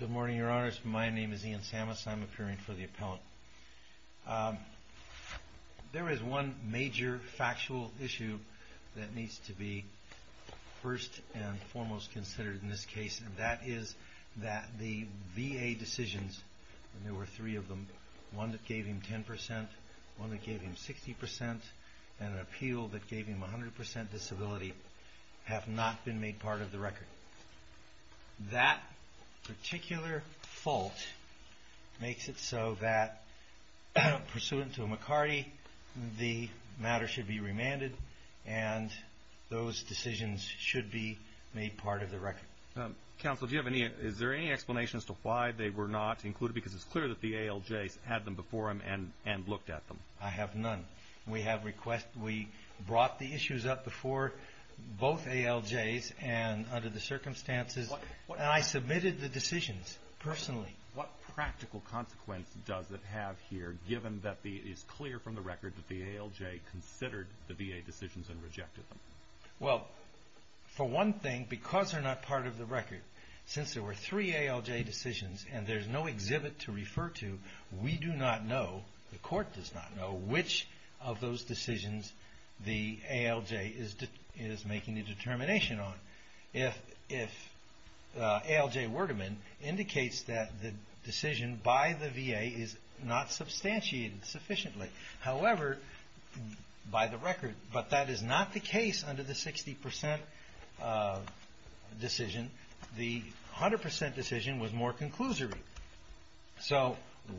Good morning, Your Honors. My name is Ian Samas. I'm appearing for the appellate. There is one major factual issue that needs to be first and foremost considered in this case, and that is that the VA decisions, and there were three of them, one that gave him 10%, one that gave him 60%, and an appeal that gave him 100% disability, have not been made part of the record. That particular fault makes it so that, pursuant to a McCarty, the matter should be remanded, and those decisions should be made part of the record. JUDGE LEBEN Counsel, is there any explanation as to why they were not included? Because it's clear that the ALJs had them before him and looked at them. IAN SAMAS I have none. We brought the issues up before both ALJs, and under the circumstances, and I submitted the decisions personally. JUDGE LEBEN What practical consequence does it have here, given that it is clear from the record that the ALJ considered the VA decisions and rejected them? IAN SAMAS Well, for one thing, because they're not part of the record, since there were three ALJ decisions and there's no exhibit to refer to, we do not know, the court does not know, which of those decisions the ALJ is making a determination on. If ALJ Werdemann indicates that the decision by the VA is not substantiated sufficiently, however, by the record, but that is not the case under the 60% decision. The 100% decision was more conclusory. So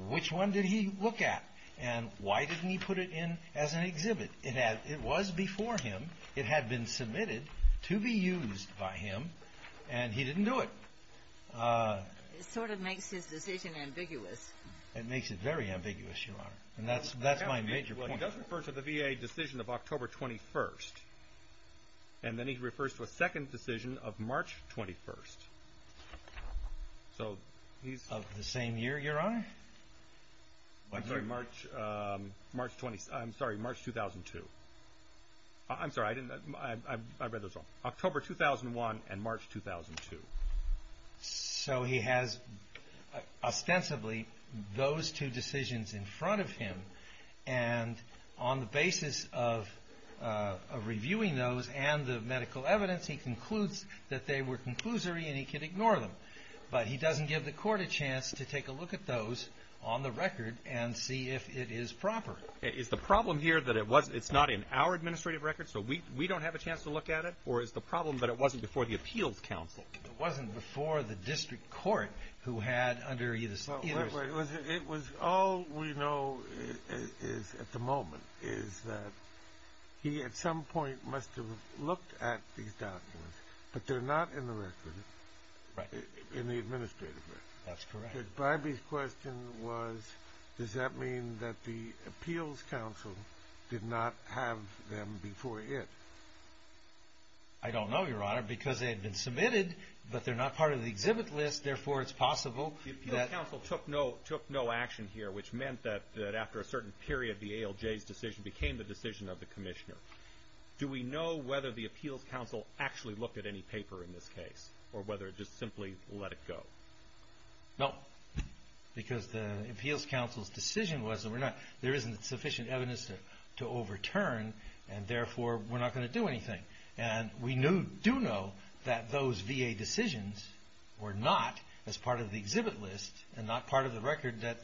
which one did he look at, and why didn't he put it in as an exhibit? It was before him. It had been submitted to be used by him, and he didn't do it. JUDGE LEBEN It sort of makes his decision ambiguous. IAN SAMAS It makes it very ambiguous, Your Honor, and that's my major point. He does refer to the VA decision of October 21st, and then he refers to a second decision of March 21st. So he's... JUDGE LEBEN Of the same year, Your Honor? IAN SAMAS I'm sorry, March 2002. I'm sorry, I read those wrong. October 2001 and March 2002. So he has ostensibly those two decisions in front of him, and on the basis of reviewing those and the medical evidence, he concludes that they were conclusory and he can ignore them. But he doesn't give the court a chance to take a look at those on the record and see if it is proper. JUDGE LEBEN Is the problem here that it's not in our administrative record, so we don't have a chance to look at it? Or is the problem that it wasn't before the Appeals Council? IAN SAMAS It wasn't before the district court who had under either... JUDGE LEBEN It was all we know is at the moment is that he at some point must have looked at these documents, but they're not in the record, in the administrative record. IAN SAMAS That's correct. JUDGE LEBEN But Barbee's question was, does that mean that the Appeals Council did not have them before it? IAN SAMAS I don't know, Your Honor, because they had been submitted, but they're not part of the exhibit list, therefore it's possible that... JUDGE LEBEN The Appeals Council took no action here, which meant that after a certain period, the ALJ's decision became the decision of the Commissioner. Do we know whether the Appeals Council actually looked at any paper in this case, or whether it just simply let it go? No, because the Appeals Council's decision was that there isn't sufficient evidence to overturn, and therefore we're not going to do anything. And we do know that those VA decisions were not as part of the exhibit list, and not part of the record that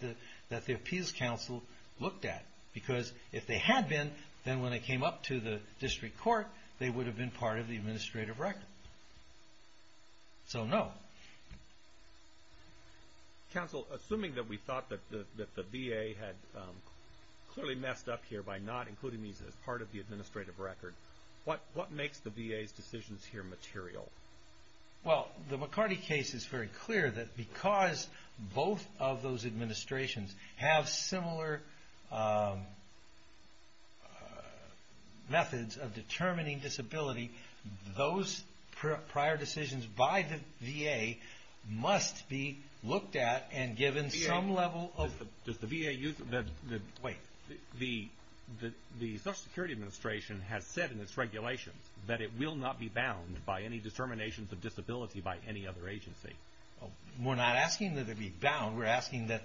the Appeals Council looked at. Because if they had been, then when they came up to the district court, they would have been part of the administrative record. So, no. JUDGE LEBEN Counsel, assuming that we thought that the VA had clearly messed up here by not including these as part of the administrative record, what makes the VA's decisions here material? Well, the McCarty case is very clear that because both of those administrations have similar methods of determining disability, those prior decisions by the VA must be looked at and given some level of... Wait. The Social Security Administration has said in its regulations that it will not be bound by any determinations of disability by any other agency. We're not asking that it be bound. We're asking that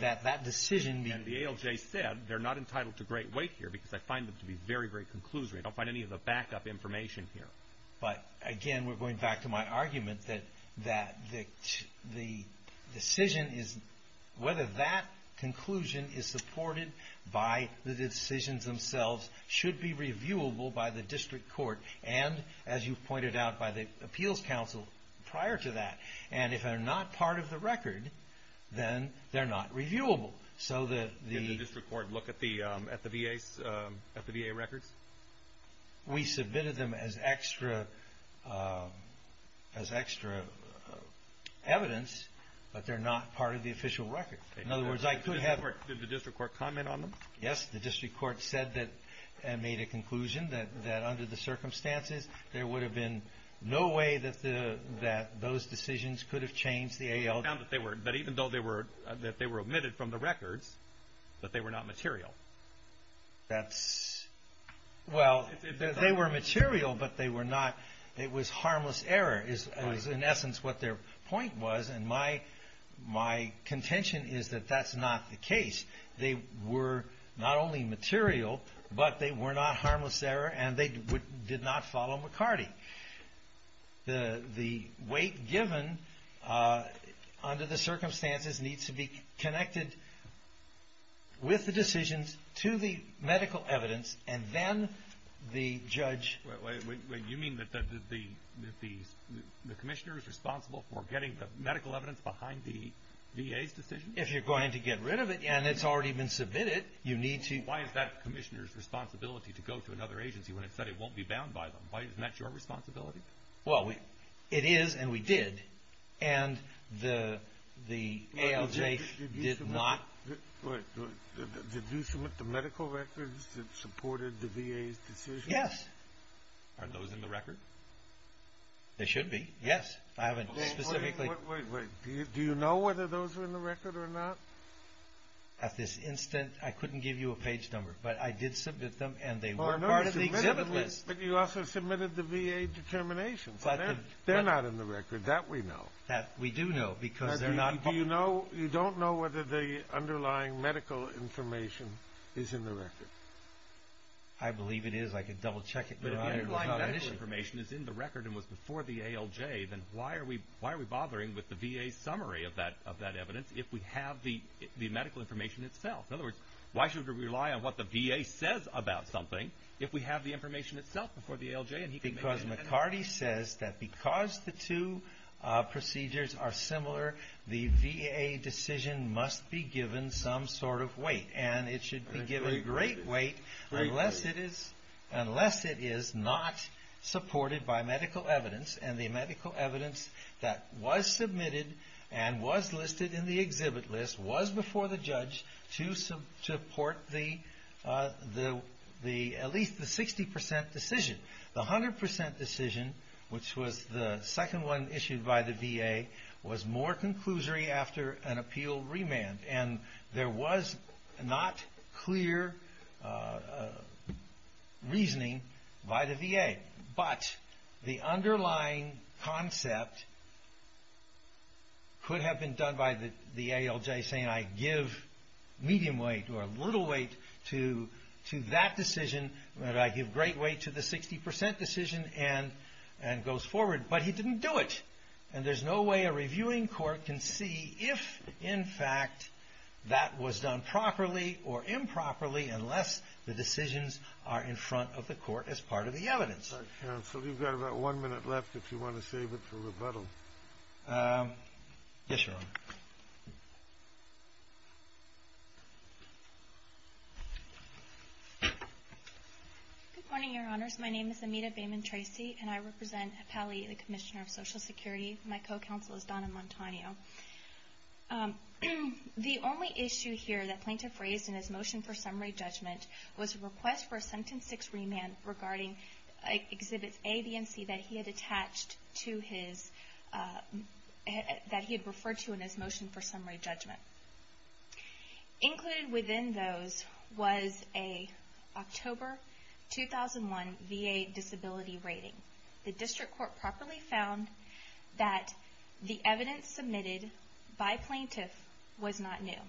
that decision be... And the ALJ said they're not entitled to great weight here, because I find them to be very, very conclusory. I don't find any of the backup information here. But, again, we're going back to my argument that the decision is... Whether that conclusion is supported by the decisions themselves should be reviewable by the district court and, as you've pointed out, by the Appeals Council prior to that. And if they're not part of the record, then they're not reviewable. So the... Did the district court look at the VA records? We submitted them as extra evidence, but they're not part of the official record. In other words, I could have... Did the district court comment on them? Yes. The district court said that and made a conclusion that, under the circumstances, there would have been no way that those decisions could have changed the ALJ... They found that even though they were omitted from the records, that they were not material. That's... Well, they were material, but they were not... It was harmless error, is, in essence, what their point was. And my contention is that that's not the case. They were not only material, but they were not harmless error, and they did not follow McCarty. The weight given, under the circumstances, needs to be connected with the decisions to the medical evidence, and then the judge... Wait, wait, wait. You mean that the commissioner is responsible for getting the medical evidence behind the VA's decision? If you're going to get rid of it, and it's already been submitted, you need to... Why is that commissioner's responsibility to go to another agency when it said it won't be bound by them? Isn't that your responsibility? Well, it is, and we did, and the ALJ did not... Wait, wait. Did you submit the medical records that supported the VA's decision? Yes. Are those in the record? They should be, yes. I haven't specifically... Wait, wait, wait. Do you know whether those are in the record or not? At this instant, I couldn't give you a page number, but I did submit them, and they were part of the exhibit list. But you also submitted the VA determinations. They're not in the record. That we know. We do know, because they're not... You don't know whether the underlying medical information is in the record? I believe it is. I can double-check it. But if the underlying medical information is in the record and was before the ALJ, then why are we bothering with the VA's summary of that evidence if we have the medical information itself? In other words, why should we rely on what the VA says about something if we have the information itself before the ALJ? Because McCarty says that because the two procedures are similar, the VA decision must be given some sort of weight, and it should be given great weight unless it is not supported by medical evidence, and the medical evidence that was submitted and was listed in the exhibit list was before the judge to support at least the 60% decision. The 100% decision, which was the second one issued by the VA, was more conclusory after an appeal remand, and there was not clear reasoning by the VA. But the underlying concept could have been done by the ALJ saying, I give medium weight or little weight to that decision, but I give great weight to the 60% decision, and goes forward. But he didn't do it, and there's no way a reviewing court can see if, in fact, that was done properly or improperly unless the decisions are in front of the court as part of the evidence. Good morning, Your Honors. My name is Amita Bayman-Tracy, and I represent Pally, the Commissioner of Social Security. My co-counsel is Donna Montano. The only issue here that Plaintiff raised in his motion for summary judgment was a request for a sentence 6 remand regarding exhibits A, B, and C that he had referred to in his motion for summary judgment. Included within those was an October 2001 VA disability rating. The district court properly found that the evidence submitted by Plaintiff was not new.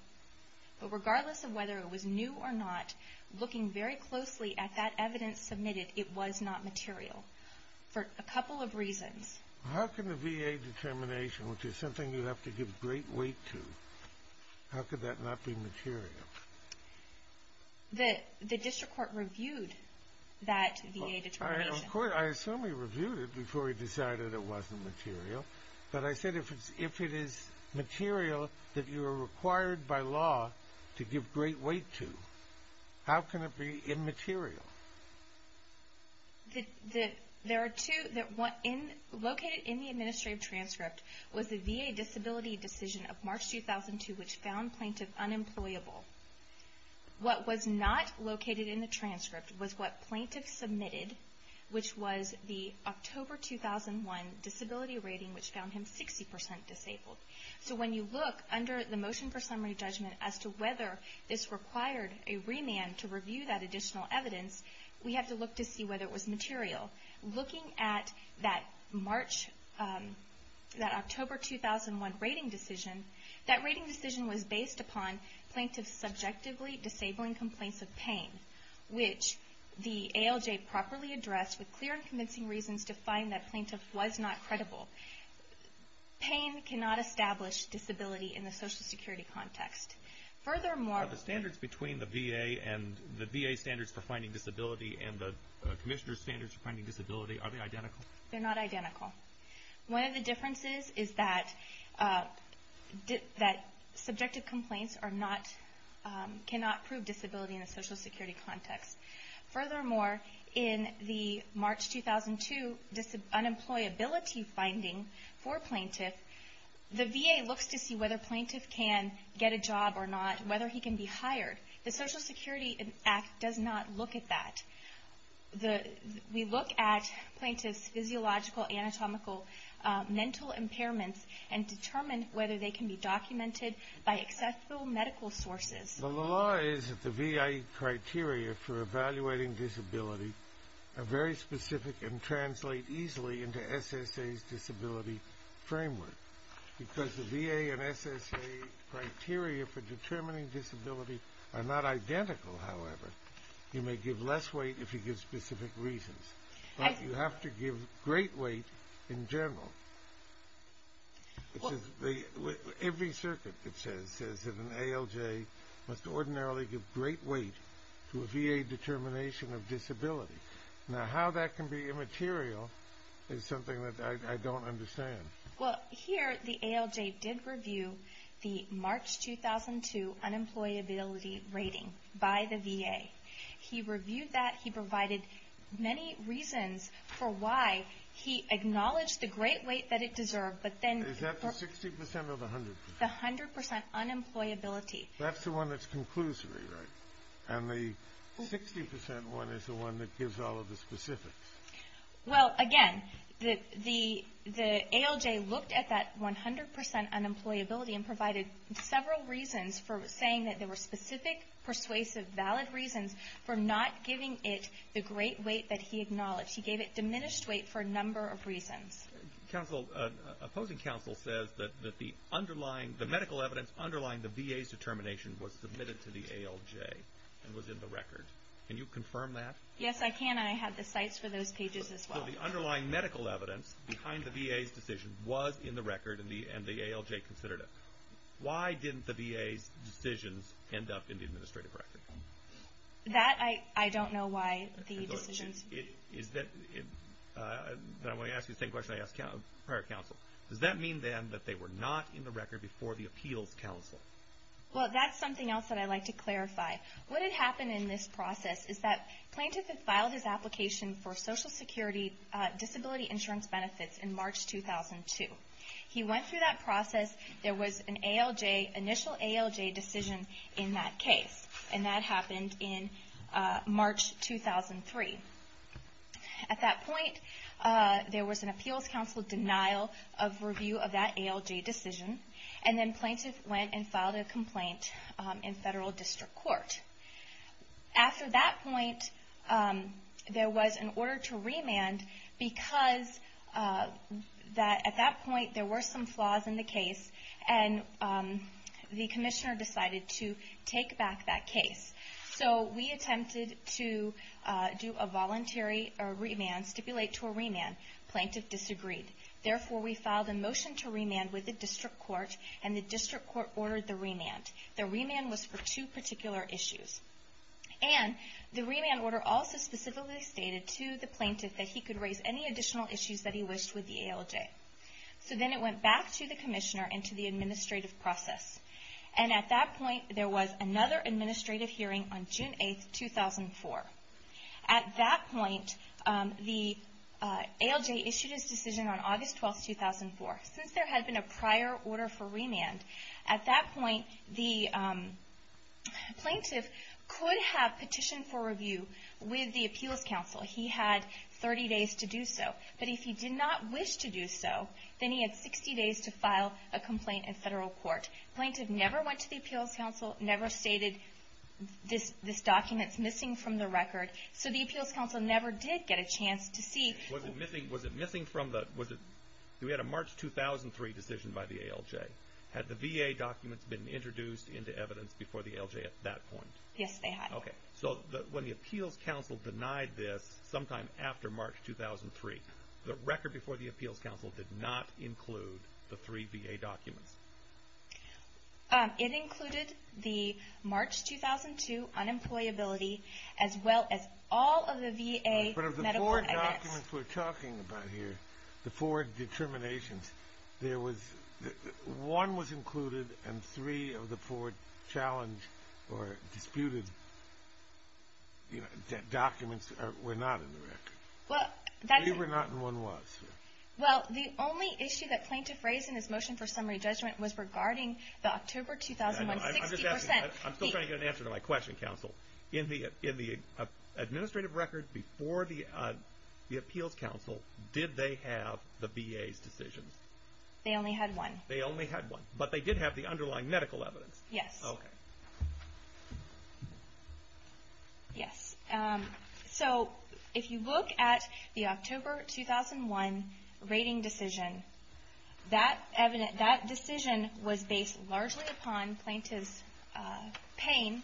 But regardless of whether it was new or not, looking very closely at that evidence submitted, it was not material for a couple of reasons. How can the VA determination, which is something you have to give great weight to, how could that not be material? The district court reviewed that VA determination. I assume he reviewed it before he decided it wasn't material, but I said if it is material that you are required by law to give great weight to, how can it be immaterial? Located in the administrative transcript was the VA disability decision of March 2002 which found Plaintiff unemployable. What was not located in the transcript was what Plaintiff submitted, which was the October 2001 disability rating, which found him 60% disabled. So when you look under the motion for summary judgment as to whether this required a remand to review that additional evidence, we have to look to see whether it was material. Looking at that October 2001 rating decision, that rating decision was based upon Plaintiff's submission to the district court. It was based on subjectively disabling complaints of pain, which the ALJ properly addressed with clear and convincing reasons to find that Plaintiff was not credible. Pain cannot establish disability in the Social Security context. Are the standards between the VA and the VA standards for finding disability and the Commissioner's standards for finding disability, are they identical? They're not identical. One of the differences is that subjective complaints cannot prove disability in the Social Security context. Furthermore, in the March 2002 unemployability finding for Plaintiff, the VA looks to see whether Plaintiff can get a job or not, whether he can be hired. The Social Security Act does not look at that. It does not look at the VA's criteria for evaluating disability and determine whether they can be documented by accessible medical sources. The law is that the VA criteria for evaluating disability are very specific and translate easily into SSA's disability framework. Because the VA and SSA criteria for determining disability are not identical, however, you may give less weight if you give specific reasons. But you have to give great weight in general. Every circuit that says that an ALJ must ordinarily give great weight to a VA determination of disability. Now how that can be immaterial is something that I don't understand. Here, the ALJ did review the March 2002 unemployability rating by the VA. He reviewed that, he provided many reasons for why he acknowledged the great weight that it deserved, but then... Is that the 60% or the 100%? The 100% unemployability. That's the one that's conclusively, right? And the 60% one is the one that gives all of the specifics. Well, again, the ALJ looked at that 100% unemployability and provided several reasons for saying that there were specific, persuasive, valid reasons for not giving it the great weight that he acknowledged. He gave it diminished weight for a number of reasons. Counsel, opposing counsel says that the underlying, the medical evidence underlying the VA's determination was submitted to the ALJ and was in the record. Can you confirm that? Yes, I can. I have the sites for those pages as well. So the underlying medical evidence behind the VA's decision was in the record and the ALJ considered it. Why didn't the VA's decisions end up in the administrative record? That, I don't know why the decisions... I want to ask you the same question I asked prior counsel. Does that mean then that they were not in the record before the appeals counsel? Well, that's something else that I'd like to clarify. What had happened in this process is that plaintiff had filed his application for Social Security Disability Insurance Benefits in March 2002. He went through that process. There was an ALJ, initial ALJ decision in that case. And that happened in March 2003. At that point, there was an appeals counsel denial of review of that ALJ decision. And then plaintiff went and filed a complaint in federal district court. After that point, there was an order to remand because at that point there were some flaws in the case. And the commissioner decided to take back that case. So we attempted to do a voluntary remand, stipulate to a remand. Plaintiff disagreed. Therefore, we filed a motion to remand with the district court and the district court ordered the remand. The remand was for two particular issues. And the remand order also specifically stated to the plaintiff that he could raise any additional issues that he wished with the ALJ. So then it went back to the commissioner and to the administrative process. And at that point, there was another administrative hearing on June 8, 2004. At that point, the ALJ issued its decision on August 12, 2004. Since there had been a prior order for remand, at that point the plaintiff could have petitioned for review with the appeals counsel. He had 30 days to do so. But if he did not wish to do so, then he had 60 days to file a complaint in federal court. The plaintiff never went to the appeals counsel, never stated this document is missing from the record. So the appeals counsel never did get a chance to see... Was it missing from the... We had a March 2003 decision by the ALJ. Had the VA documents been introduced into evidence before the ALJ at that point? Yes, they had. Okay. So when the appeals counsel denied this sometime after March 2003, the record before the appeals counsel did not include the three VA documents? It included the March 2002 unemployability, as well as all of the VA medical... But of the four documents we're talking about here, the four determinations, one was included and three of the four challenged or disputed documents were not in the record. Three were not and one was. Well, the only issue that plaintiff raised in his motion for summary judgment was regarding the October 2001... I'm still trying to get an answer to my question, counsel. In the administrative record before the appeals counsel, did they have the VA's decisions? They only had one. They only had one. But they did have the underlying medical evidence. Yes. Okay. Yes. So if you look at the October 2001 rating decision, that decision was based largely upon plaintiff's pain,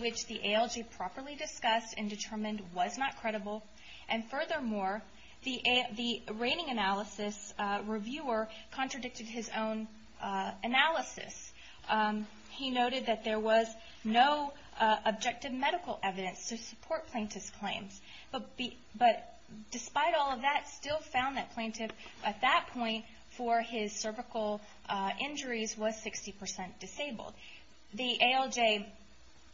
which the ALJ properly discussed and determined was not credible. And furthermore, the rating analysis reviewer contradicted his own analysis. He noted that there was no objective medical evidence to support plaintiff's claims. But despite all of that, still found that plaintiff at that point for his cervical injuries was 60% disabled. The ALJ...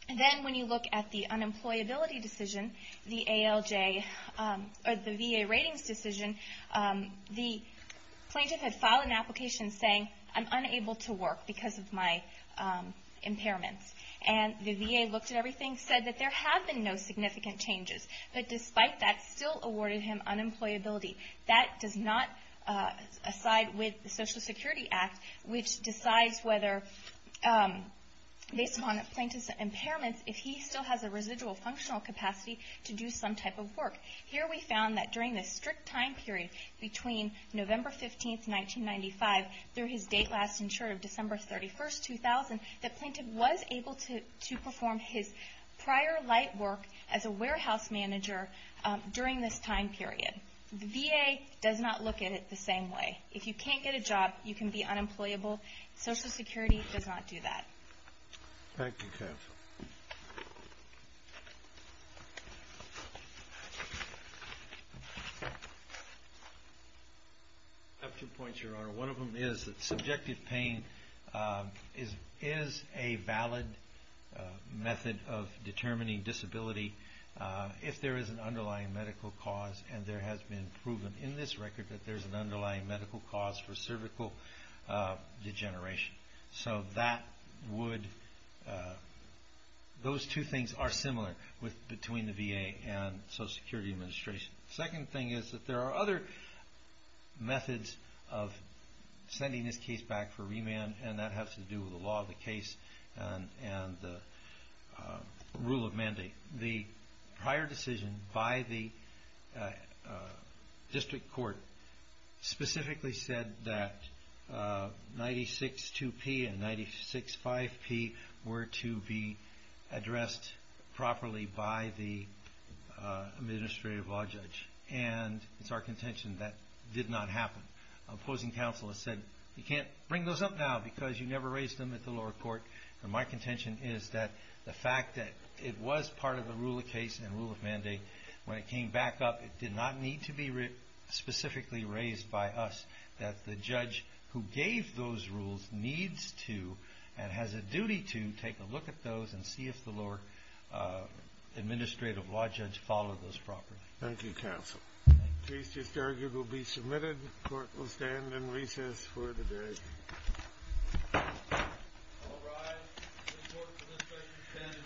Then when you look at the unemployability decision, the ALJ or the VA ratings decision, the plaintiff had filed an application saying, I'm unable to work because of my impairments. And the VA looked at everything, said that there have been no significant changes. But despite that, still awarded him unemployability. That does not... Aside with the Social Security Act, which decides whether, based upon the plaintiff's impairments, if he still has a residual functional capacity to do some type of work. Here we found that during this strict time period between November 15, 1995, through his date last insured of December 31, 2000, that plaintiff was able to perform his prior light work as a warehouse manager during this time period. The VA does not look at it the same way. If you can't get a job, you can be unemployable. Social Security does not do that. Thank you, counsel. I have two points, Your Honor. One of them is that subjective pain is a valid method of determining disability if there is an underlying medical cause, and there has been proven in this record that there is an underlying medical cause for cervical degeneration. So that would... Those two things are similar between the VA and Social Security Administration. The second thing is that there are other methods of sending this case back for remand, and that has to do with the law of the case and the rule of mandate. The prior decision by the district court specifically said that 96-2P and 96-5P were to be addressed properly by the administrative law judge, and it's our contention that did not happen. Opposing counsel has said, you can't bring those up now because you never raised them at the lower court. My contention is that the fact that it was part of the rule of case and rule of mandate, when it came back up, it did not need to be specifically raised by us, that the judge who gave those rules needs to and has a duty to take a look at those and see if the lower administrative law judge followed those properly. Thank you, counsel. The case just argued will be submitted. Court will stand in recess for the day. All rise. The court for this case is adjourned. Thank you.